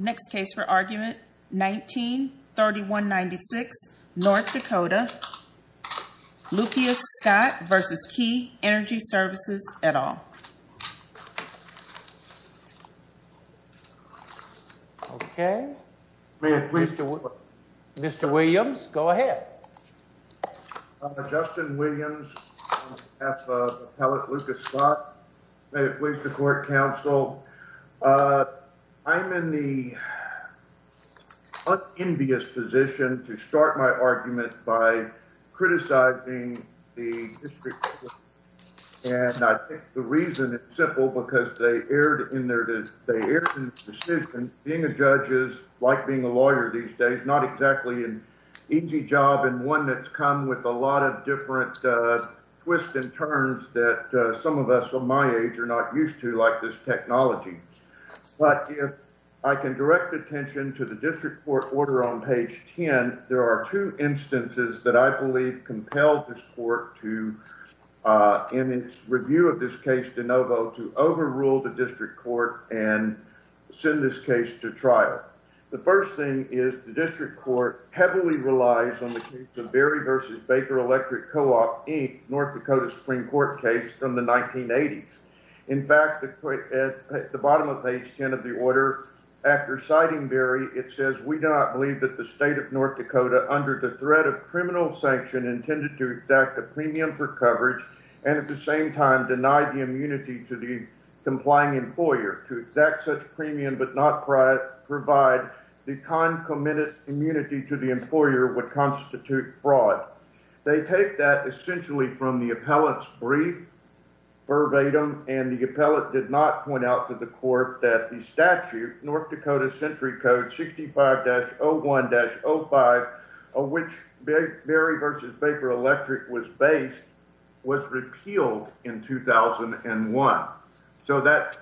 Next case for argument, 19-3196, North Dakota, Lucas Scott v. Key Energy Services, et al. Okay. Mr. Williams, go ahead. I'm Justin Williams. I'm on behalf of Appellate Lucas Scott. May it please the Court, Counsel. I'm in the unenvious position to start my argument by criticizing the District Court. And I think the reason is simple because they erred in their decision. Being a judge is like being a lawyer these days, not exactly an easy job and one that's come with a lot of different twists and turns that some of us of my age are not used to like this technology. But if I can direct attention to the District Court order on page 10, there are two instances that I believe compelled this Court to, in its review of this case de novo, to overrule the District Court and send this case to trial. The first thing is the District Court heavily relies on the case of Berry v. Baker Electric Co-op, Inc., North Dakota Supreme Court case from the 1980s. In fact, at the bottom of page 10 of the order, after citing Berry, it says, We do not believe that the State of North Dakota, under the threat of criminal sanction, intended to exact a premium for coverage and at the same time deny the immunity to the complying employer. To exact such premium but not provide the concomitant immunity to the employer would constitute fraud. They take that essentially from the appellant's brief verbatim, and the appellant did not point out to the court that the statute, North Dakota Century Code 65-01-05, of which Berry v. Baker Electric was based, was repealed in 2001. So that,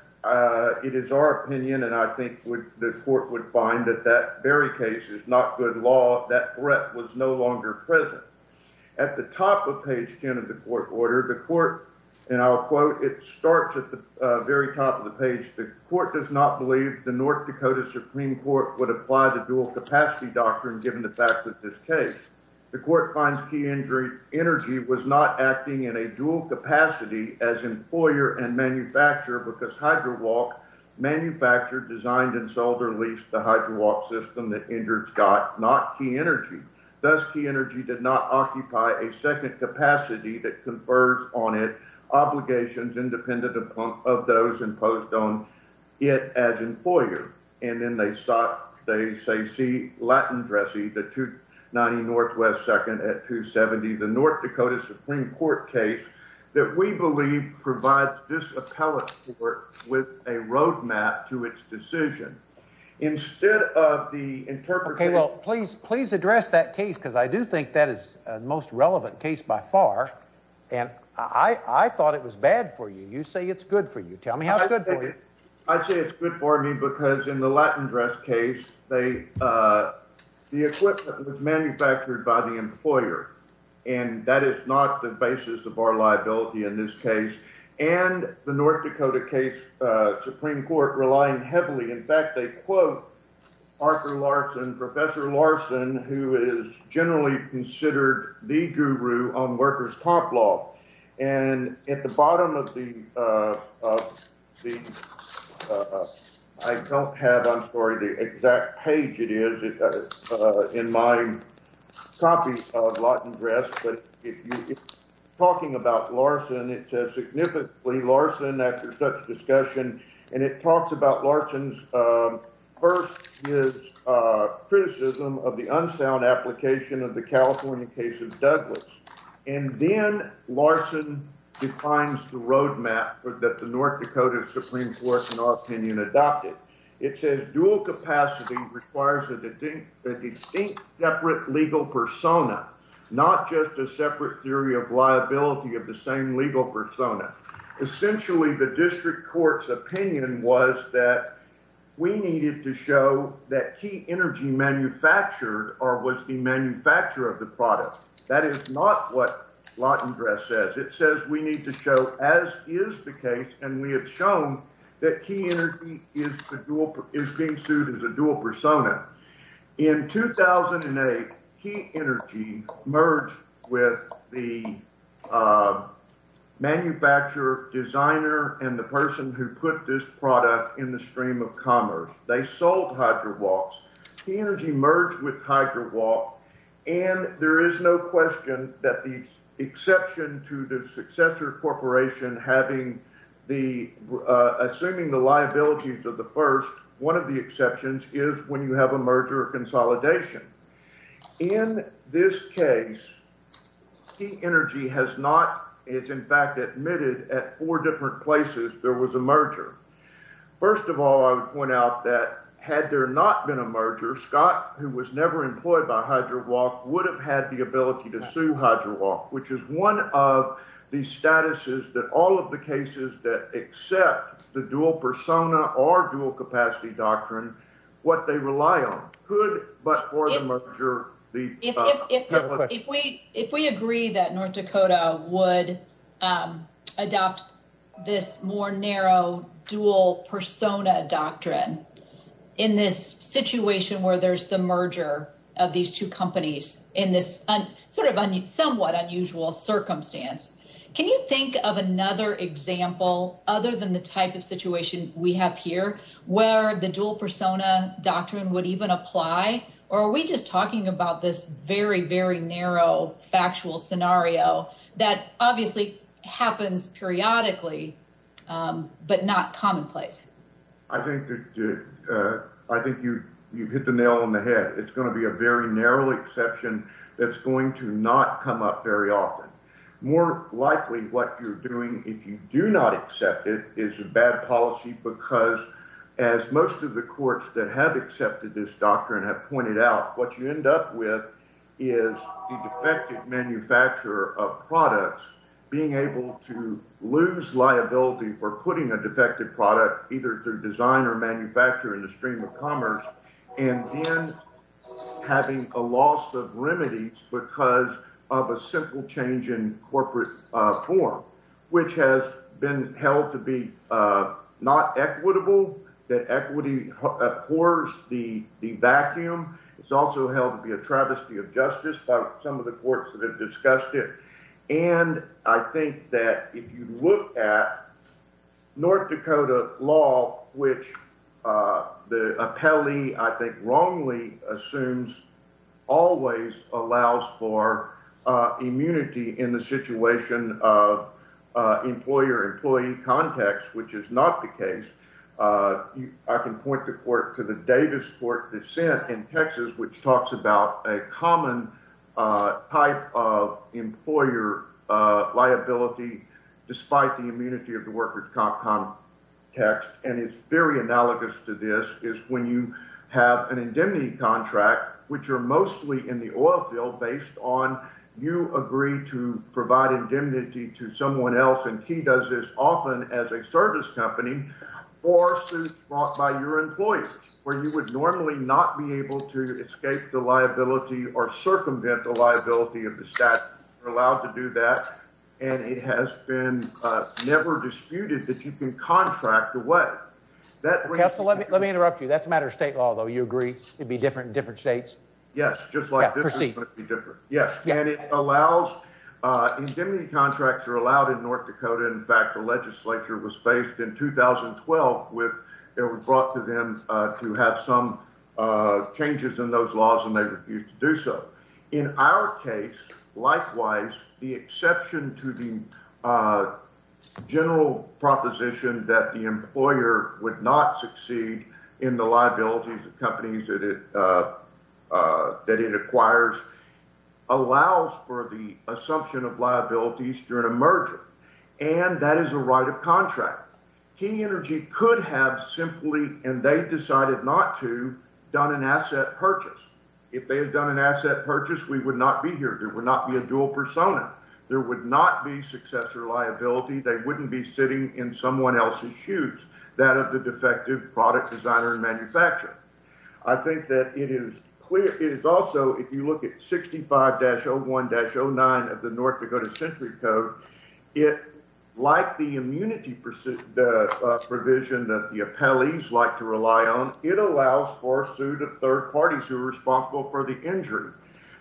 it is our opinion, and I think the court would find that that Berry case is not good law, that threat was no longer present. At the top of page 10 of the court order, the court, and I'll quote, it starts at the very top of the page, The court does not believe the North Dakota Supreme Court would apply the dual capacity doctrine given the facts of this case. The court finds key energy was not acting in a dual capacity as employer and manufacturer because HydroWalk manufactured, designed, and sold or leased the HydroWalk system that injured Scott, not key energy. Thus key energy did not occupy a second capacity that confers on it obligations independent of those imposed on it as employer. And then they sought, they say, see Latin Dressy, the 290 Northwest 2nd at 270, the North Dakota Supreme Court case that we believe provides this appellate court with a roadmap to its decision. Instead of the interpretation... Okay, well, please, please address that case because I do think that is the most relevant case by far, and I thought it was bad for you. You say it's good for you. Tell me how it's good for you. I'd say it's good for me because in the Latin dress case, the equipment was manufactured by the employer, and that is not the basis of our liability in this case. And the North Dakota case Supreme Court relying heavily. In fact, they quote Arthur Larson, Professor Larson, who is generally considered the guru on workers top law. And at the bottom of the... I don't have on story the exact page it is in my copy of Latin dress, but if you're talking about Larson, it says significantly Larson after such discussion, and it talks about Larson's. First is criticism of the unsound application of the California case of Douglas, and then Larson defines the roadmap that the North Dakota Supreme Court, in our opinion, adopted. It says dual capacity requires a distinct separate legal persona, not just a separate theory of liability of the same legal persona. Essentially, the district court's opinion was that we needed to show that key energy manufactured or was the manufacturer of the product. That is not what Latin dress says. It says we need to show, as is the case, and we have shown that key energy is being sued as a dual persona. In 2008, key energy merged with the manufacturer, designer, and the person who put this product in the stream of commerce. They sold HydraWalks. Key energy merged with HydraWalk, and there is no question that the exception to the successor corporation having the... Assuming the liabilities of the first, one of the exceptions is when you have a merger or consolidation. In this case, key energy has not... It's in fact admitted at four different places there was a merger. First of all, I would point out that had there not been a merger, Scott, who was never employed by HydraWalk, would have had the ability to sue HydraWalk, which is one of the statuses that all of the cases that accept the dual persona or dual capacity doctrine, what they rely on. If we agree that North Dakota would adopt this more narrow dual persona doctrine in this situation where there's the merger of these two companies in this somewhat unusual circumstance, can you think of another example other than the type of situation we have here where the dual persona doctrine would even apply, or are we just talking about this very, very narrow factual scenario that obviously happens periodically but not commonplace? I think you hit the nail on the head. It's going to be a very narrow exception that's going to not come up very often. More likely what you're doing if you do not accept it is a bad policy because, as most of the courts that have accepted this doctrine have pointed out, what you end up with is the defective manufacturer of products being able to lose liability for putting a defective product, either through design or manufacture in the stream of commerce, and then having a loss of remedies because of a simple change in corporate form, which has been held to be not equitable, that equity pours the vacuum. It's also held to be a travesty of justice by some of the courts that have discussed it. And I think that if you look at North Dakota law, which the appellee I think wrongly assumes always allows for immunity in the situation of employer-employee context, which is not the case, I can point the court to the Davis Court dissent in Texas, which talks about a common type of employer liability despite the immunity of the workers' comp context. And it's very analogous to this, is when you have an indemnity contract, which are mostly in the oil field based on you agree to provide indemnity to someone else, and Key does this often as a service company, for suits brought by your employers, where you would normally not be able to escape the liability or circumvent the liability of the statute. You're allowed to do that, and it has been never disputed that you can contract away. Let me interrupt you. That's a matter of state law, though. You agree it'd be different in different states? Yes, just like this. Proceed. Yes, and it allows, indemnity contracts are allowed in North Dakota. In fact, the legislature was faced in 2012 with, it was brought to them to have some changes in those laws, and they refused to do so. In our case, likewise, the exception to the general proposition that the employer would not succeed in the liabilities of companies that it acquires allows for the assumption of liabilities during a merger, and that is a right of contract. Key Energy could have simply, and they decided not to, done an asset purchase. If they had done an asset purchase, we would not be here. There would not be a dual persona. There would not be successor liability. They wouldn't be sitting in someone else's shoes, that of the defective product designer and manufacturer. I think that it is clear, it is also, if you look at 65-01-09 of the North Dakota Century Code, it, like the immunity provision that the appellees like to rely on, it allows for a suit of third parties who are responsible for the injury.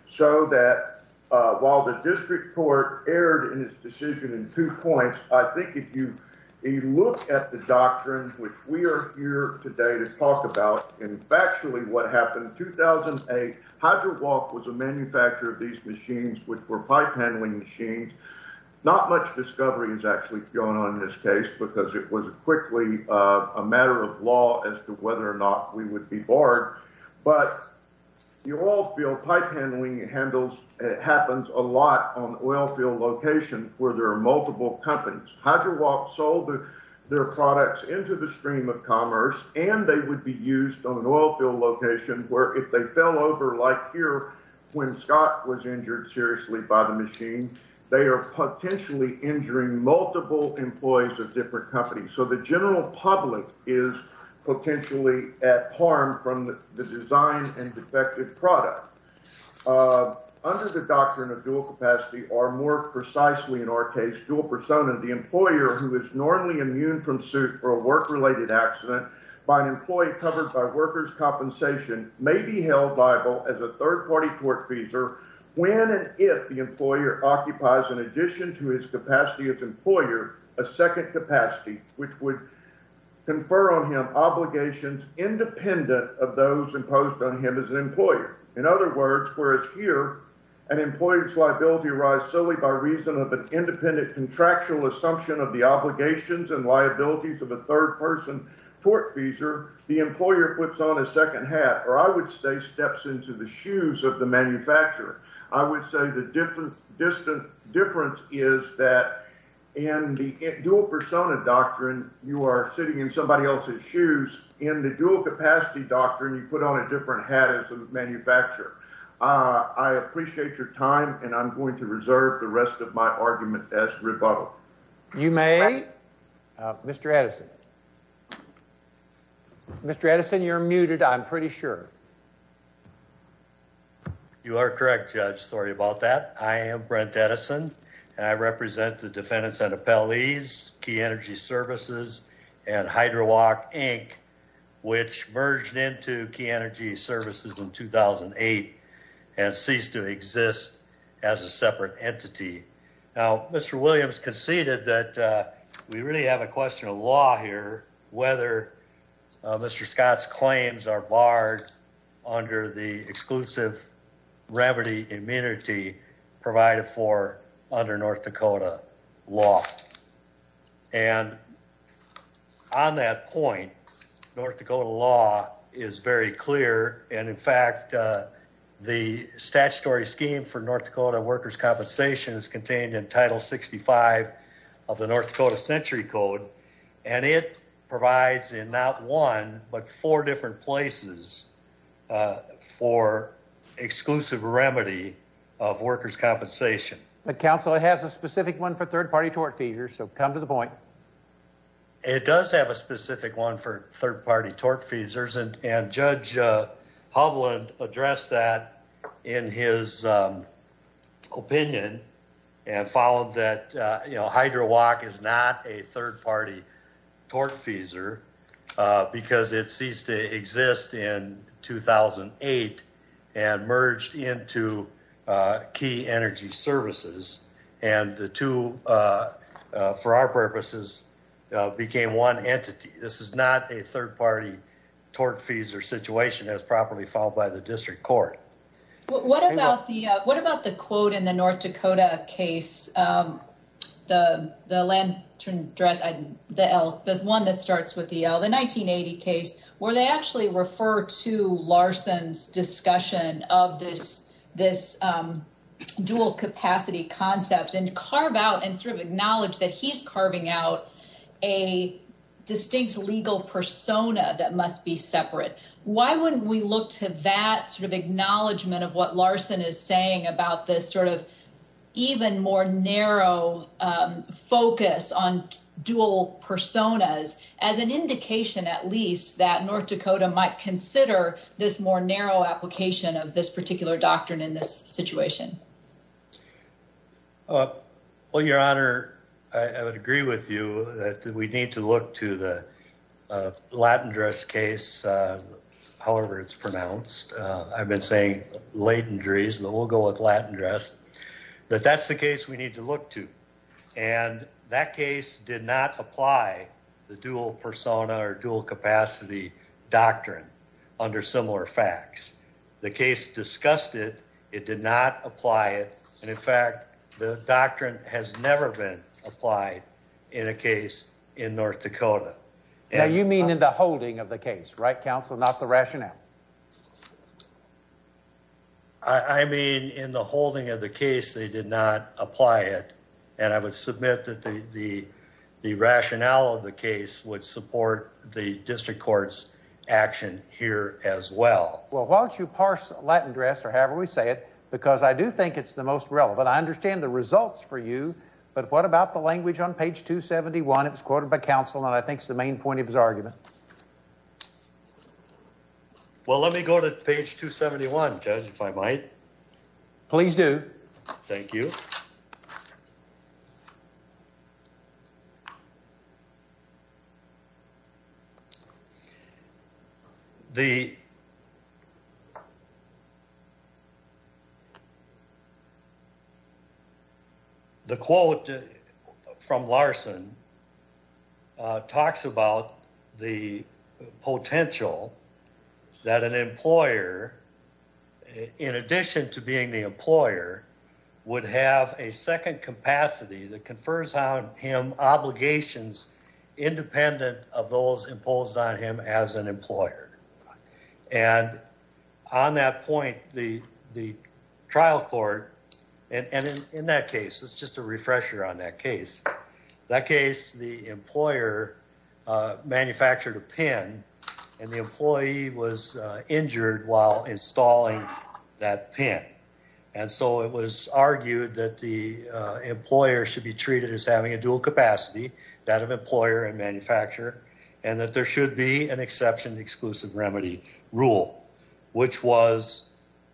So that while the district court erred in its decision in two points, I think if you look at the doctrine, which we are here today to talk about, and factually what happened in 2008, HydroWalk was a manufacturer of these machines, which were pipe handling machines. Not much discovery is actually going on in this case because it was quickly a matter of law as to whether or not we would be barred, but the oil field pipe handling happens a lot on oil field locations where there are multiple companies. HydroWalk sold their products into the stream of commerce, and they would be used on an oil field location where if they fell over, like here when Scott was injured seriously by the machine, they are potentially injuring multiple employees of different companies. So the general public is potentially at harm from the design and defective product. Under the doctrine of dual capacity, or more precisely in our case, dual persona, the employer who is normally immune from suit for a work-related accident by an employee covered by workers' compensation may be held liable as a third-party tortfeasor when and if the employer occupies, in addition to his capacity as an employer, a second capacity, which would confer on him obligations independent of those imposed on him as an employer. Whereas here, an employer's liability arises solely by reason of an independent contractual assumption of the obligations and liabilities of a third-person tortfeasor, the employer puts on a second hat, or I would say steps into the shoes of the manufacturer. I would say the difference is that in the dual persona doctrine, you are sitting in somebody else's shoes. In the dual capacity doctrine, you put on a different hat as a manufacturer. I appreciate your time, and I'm going to reserve the rest of my argument as rebuttal. You may, Mr. Edison. Mr. Edison, you're muted, I'm pretty sure. You are correct, Judge. Sorry about that. I am Brent Edison, and I represent the defendants and appellees, Key Energy Services and HydroWalk, Inc., which merged into Key Energy Services in 2008 and ceased to exist as a separate entity. Now, Mr. Williams conceded that we really have a question of law here, whether Mr. Scott's claims are barred under the exclusive remedy immunity provided for under North Dakota law. And on that point, North Dakota law is very clear, and in fact, the statutory scheme for North Dakota workers' compensation is contained in Title 65 of the North Dakota Century Code, and it provides in not one but four different places for exclusive remedy of workers' compensation. But, counsel, it has a specific one for third-party tortfeasors, so come to the point. And the two, for our purposes, became one entity. This is not a third-party tortfeasor situation as properly followed by the district court. What about the quote in the North Dakota case, the one that starts with the L, the 1980 case, where they actually refer to Larson's discussion of this dual-capacity concept and carve out and sort of acknowledge that he's carving out a distinct legal persona that must be separate. Why wouldn't we look to that sort of acknowledgement of what Larson is saying about this sort of even more narrow focus on dual personas as an indication, at least, that North Dakota might consider this more narrow application of this particular doctrine in this situation? Well, Your Honor, I would agree with you that we need to look to the Latendress case, however it's pronounced. I've been saying Latendries, but we'll go with Latendress. But that's the case we need to look to. And that case did not apply the dual persona or dual-capacity doctrine under similar facts. The case discussed it. It did not apply it. And, in fact, the doctrine has never been applied in a case in North Dakota. Now, you mean in the holding of the case, right, counsel, not the rationale? I mean, in the holding of the case, they did not apply it. And I would submit that the rationale of the case would support the district court's action here as well. Well, why don't you parse Latendress, or however we say it, because I do think it's the most relevant. I understand the results for you, but what about the language on page 271? It was quoted by counsel, and I think it's the main point of his argument. Well, let me go to page 271, Judge, if I might. Please do. Thank you. Okay. The. The. The quote from Larson. Talks about the potential that an employer, in addition to being the employer, would have a second capacity that confers on him obligations independent of those imposed on him as an employer. And on that point, the trial court, and in that case, it's just a refresher on that case, that case, the employer manufactured a pin, and the employee was injured while installing that pin. And so it was argued that the employer should be treated as having a dual capacity, that of employer and manufacturer, and that there should be an exception exclusive remedy rule, which was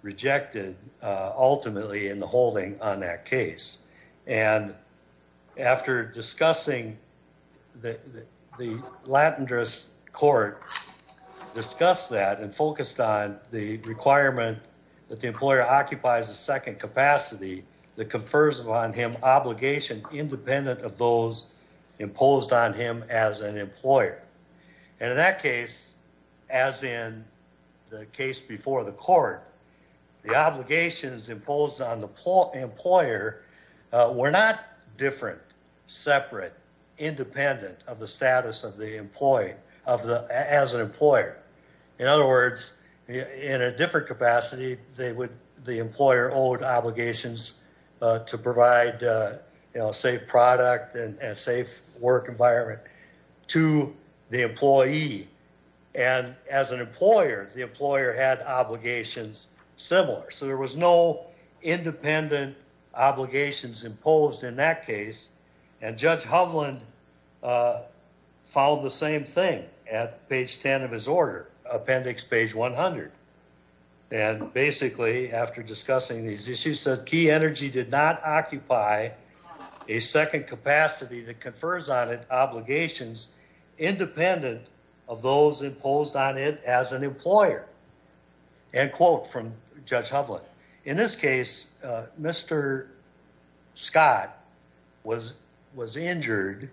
rejected ultimately in the holding on that case. And after discussing that, the Lattendris court discussed that and focused on the requirement that the employer occupies a second capacity that confers upon him obligation independent of those imposed on him as an employer. And in that case, as in the case before the court, the obligations imposed on the employer were not different, separate, independent of the status of the employee as an employer. In other words, in a different capacity, they would, the employer owed obligations to provide, you know, safe product and safe work environment to the employee. And as an employer, the employer had obligations similar. So there was no independent obligations imposed in that case. And Judge Hovland followed the same thing at page 10 of his order, appendix page 100. And basically after discussing these issues, said key energy did not occupy a second capacity that confers on it obligations independent of those imposed on it as an employer and quote from Judge Hovland. In this case, Mr. Scott was injured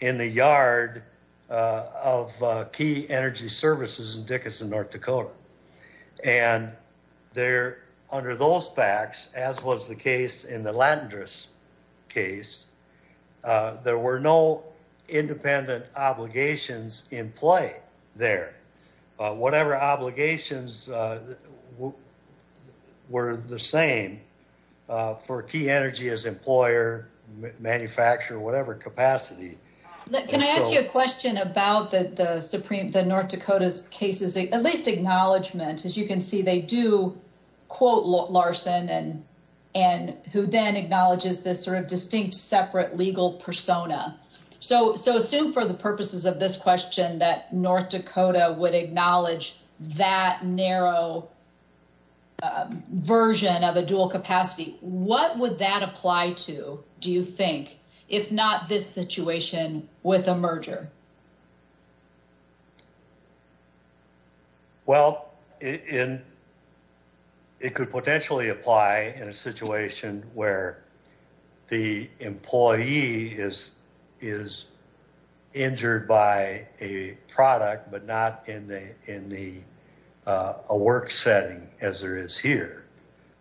in the yard of key energy services in Dickinson, North Dakota. And there under those facts, as was the case in the Lattendris case, there were no independent obligations in play there. Whatever obligations were the same for key energy as employer, manufacturer, whatever capacity. Can I ask you a question about the Supreme, the North Dakota's cases, at least acknowledgment, as you can see, they do quote Larson and and who then acknowledges this sort of distinct separate legal persona. So so assume for the purposes of this question that North Dakota would acknowledge that narrow version of a dual capacity. What would that apply to? Do you think if not this situation with a merger? Well, in it could potentially apply in a situation where the employee is is injured by a product, but not in the in the work setting as there is here,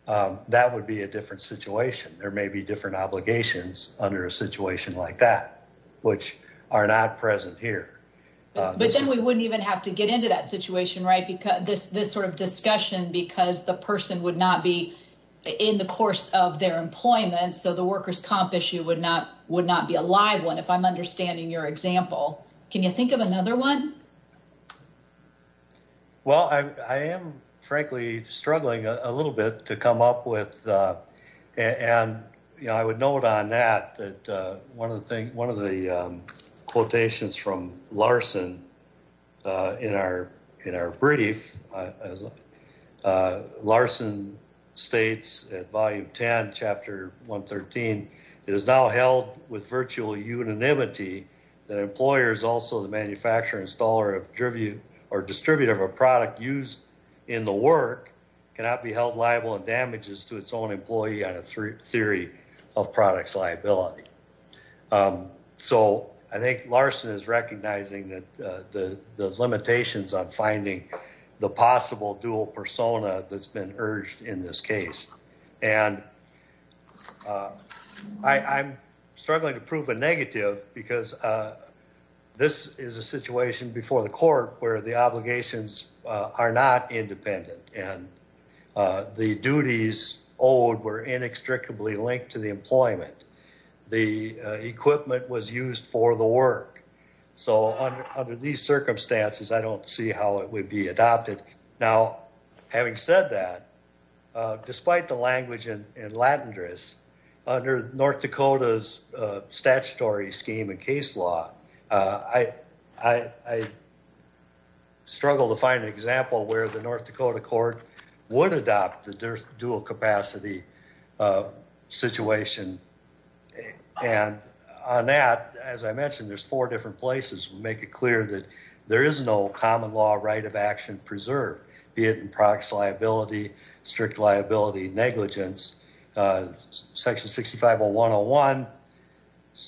that would be a different situation. There may be different obligations under a situation like that, which are not present here. But then we wouldn't even have to get into that situation, right? Because this this sort of discussion, because the person would not be in the course of their employment. So the workers comp issue would not would not be a live one. If I'm understanding your example, can you think of another one? Well, I am, frankly, struggling a little bit to come up with, and I would note on that that one of the thing one of the quotations from Larson in our in our brief. As Larson states at Volume 10, Chapter 113, it is now held with virtual unanimity that employers also the manufacturer installer of tribute or distributor of a product used in the work cannot be held liable and damages to its own employee on a theory of products liability. So I think Larson is recognizing that the limitations on finding the possible dual persona that's been urged in this case, and I'm struggling to prove a negative because this is a situation before the court where the obligations are not independent and the duties owed were inextricably linked to the employment. The equipment was used for the work. So, under these circumstances, I don't see how it would be adopted. Now, having said that, despite the language and Latin dress under North Dakota's statutory scheme and case law. I struggle to find an example where the North Dakota court would adopt the dual capacity situation. And on that, as I mentioned, there's four different places, make it clear that there is no common law right of action preserved, be it in products liability, strict liability negligence. Section 650101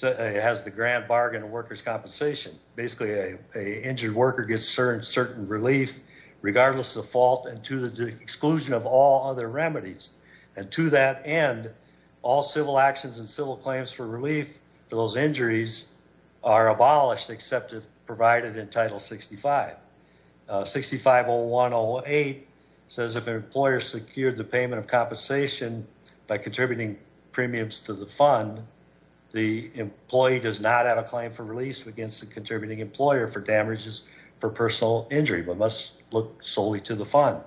has the grand bargain workers compensation. Basically, a injured worker gets certain relief, regardless of fault and to the exclusion of all other remedies. And to that end, all civil actions and civil claims for relief for those injuries are abolished, except if provided in title 65. 650108 says if an employer secured the payment of compensation by contributing premiums to the fund, the employee does not have a claim for release against the contributing employer for damages for personal injury, but must look solely to the fund.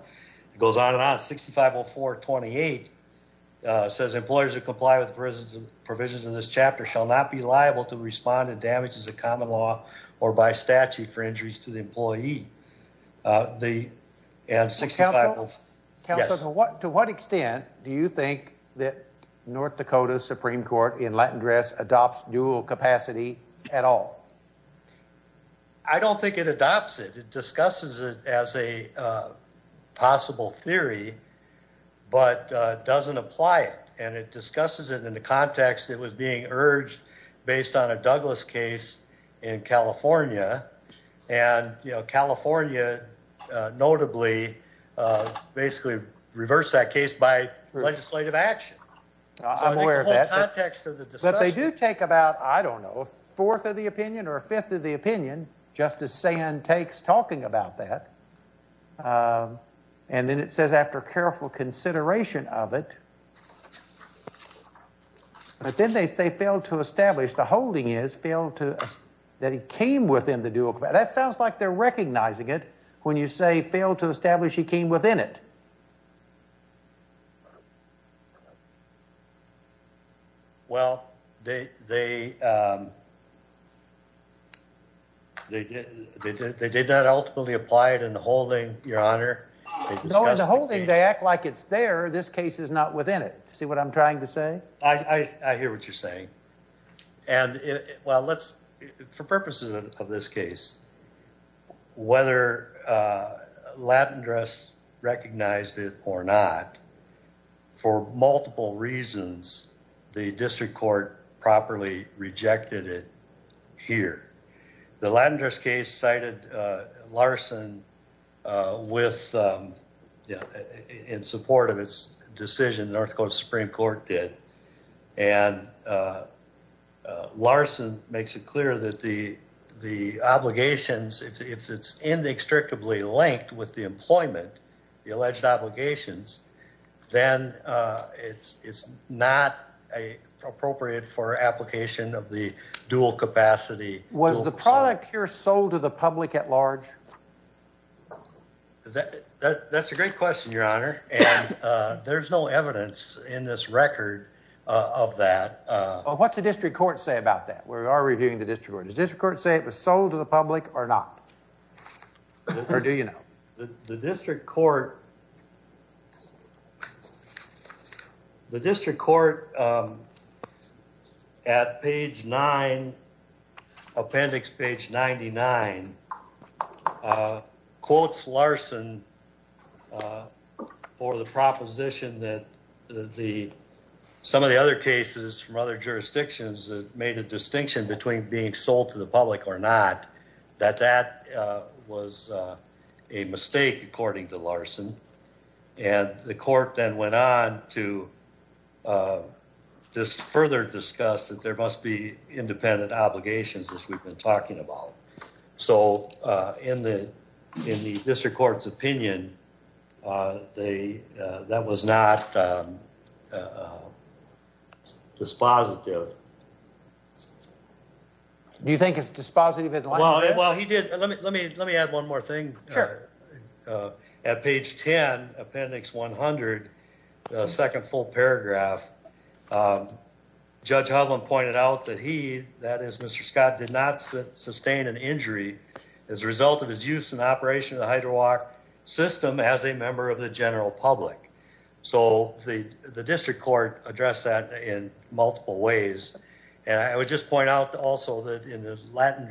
It goes on and on. 650428 says employers who comply with the provisions of this chapter shall not be liable to respond to damages of common law or by statute for injuries to the employee. Counsel, to what extent do you think that North Dakota Supreme Court in Latin dress adopts dual capacity at all? I don't think it adopts it. It discusses it as a possible theory, but doesn't apply it. And it discusses it in the context it was being urged based on a Douglas case in California. And, you know, California notably basically reversed that case by legislative action. I'm aware of that. But they do take about, I don't know, a fourth of the opinion or a fifth of the opinion. Just as San takes talking about that. And then it says after careful consideration of it. But then they say failed to establish the holding is failed to that it came within the dual. But that sounds like they're recognizing it when you say failed to establish he came within it. Well, they they. They did. They did. They did not ultimately apply it in the holding your honor. The holding they act like it's there. This case is not within it. See what I'm trying to say. I hear what you're saying. And well, let's for purposes of this case. Whether Latin dress recognized it or not. For multiple reasons, the district court properly rejected it here. The landers case cited Larson with in support of its decision. North Coast Supreme Court did. And Larson makes it clear that the the obligations, if it's in the extractively linked with the employment, the alleged obligations, then it's not a appropriate for application of the dual capacity. Was the product here sold to the public at large? That's a great question, your honor. And there's no evidence in this record of that. What's the district court say about that? We are reviewing the district court district court say it was sold to the public or not. Or do you know the district court? The district court. At page 9. Appendix page 99. Quotes Larson. For the proposition that the some of the other cases from other jurisdictions that made a distinction between being sold to the public or not, that that was a mistake, according to Larson. And the court then went on to. Just further discuss that there must be independent obligations as we've been talking about. So in the in the district court's opinion. They that was not. Dispositive. Do you think it's dispositive? Well, he did. Let me let me let me add one more thing. Sure. At page 10 appendix 100. 2nd full paragraph. Judge Holland pointed out that he that is Mr. Scott did not sustain an injury as a result of his use and operation of the Hydra walk system as a member of the general public. So the the district court address that in multiple ways. And I would just point out also that in the Latin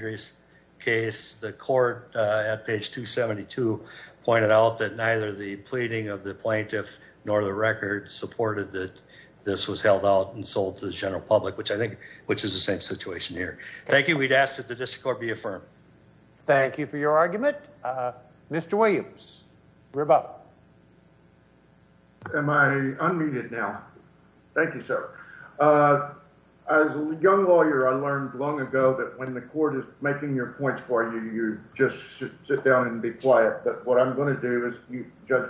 case, the court at page 272 pointed out that neither the pleading of the plaintiff nor the record supported that this was held out and sold to the general public, which I think, which is the same situation here. Thank you. We'd ask that the district court be affirmed. Thank you for your argument. Mr. Williams. We're about. Am I unmuted now? Thank you, sir. As a young lawyer, I learned long ago that when the court is making your points for you, you just sit down and be quiet. But what I'm going to do is you judge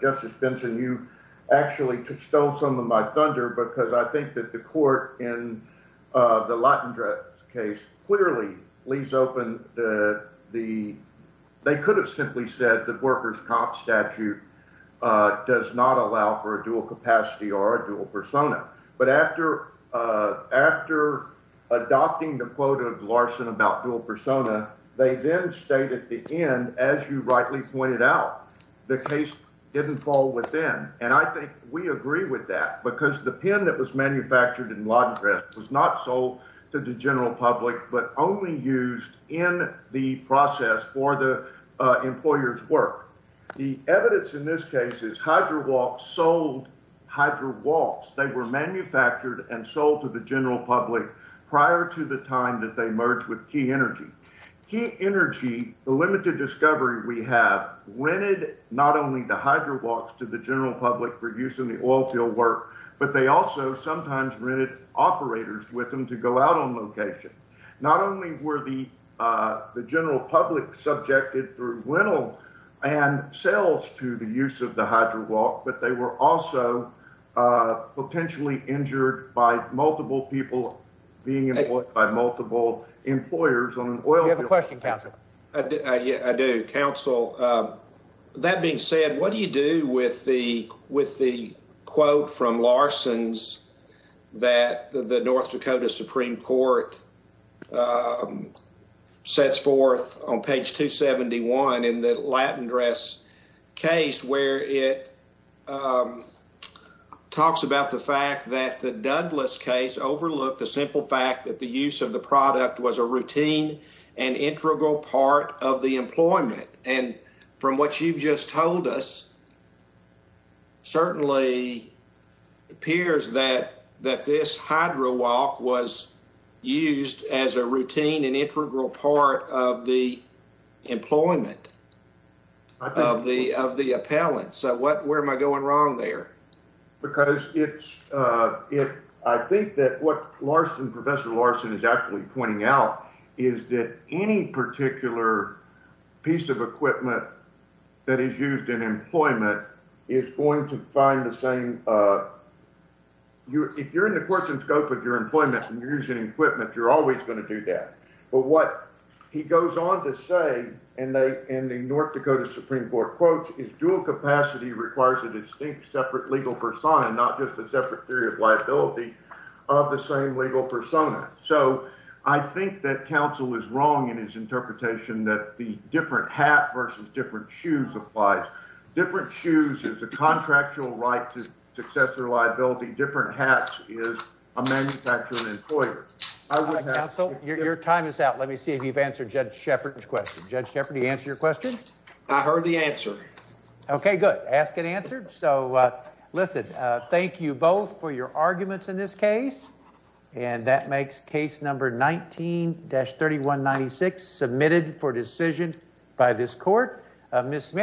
Justice Benson, you actually stole some of my thunder, because I think that the court in the Latin case clearly leaves open the the. They could have simply said that workers cop statute does not allow for a dual capacity or a dual persona. But after after adopting the quote of Larson about dual persona, they then stayed at the end. As you rightly pointed out, the case didn't fall within. And I think we agree with that because the pen that was manufactured and was not sold to the general public, but only used in the process for the employer's work. The evidence in this case is Hydra walks, sold Hydra walks. They were manufactured and sold to the general public prior to the time that they merged with Key Energy. Key Energy, the limited discovery we have rented not only the Hydra walks to the general public for use in the oil field work, but they also sometimes rented operators with them to go out on location. Not only were the the general public subjected through rental and sales to the use of the Hydra walk, but they were also potentially injured by multiple people being employed by multiple employers. Well, you have a question, counsel. I do, counsel. That being said, what do you do with the with the quote from Larson's that the North Dakota Supreme Court sets forth on page 271 in the Latin dress case where it talks about the fact that the Douglas case overlooked the simple fact that the use of the product was a routine. An integral part of the employment. And from what you've just told us. Certainly appears that that this Hydra walk was used as a routine and integral part of the employment of the of the appellant. So what where am I going wrong there? Because it's it. I think that what Larson Professor Larson is actually pointing out is that any particular piece of equipment that is used in employment is going to find the same. So I think that counsel is wrong in his interpretation that the different hat versus different shoes applies. Different shoes is a contractual right. Different hats is a manufacturing employer. So your time is out. Let me see if you've answered Judge Shepard's question. Judge Jeopardy answer your question. I heard the answer. OK, good. Ask an answer. So listen, thank you both for your arguments in this case. And that makes case number 19 dash 3196 submitted for decision by this court. Miss Smith.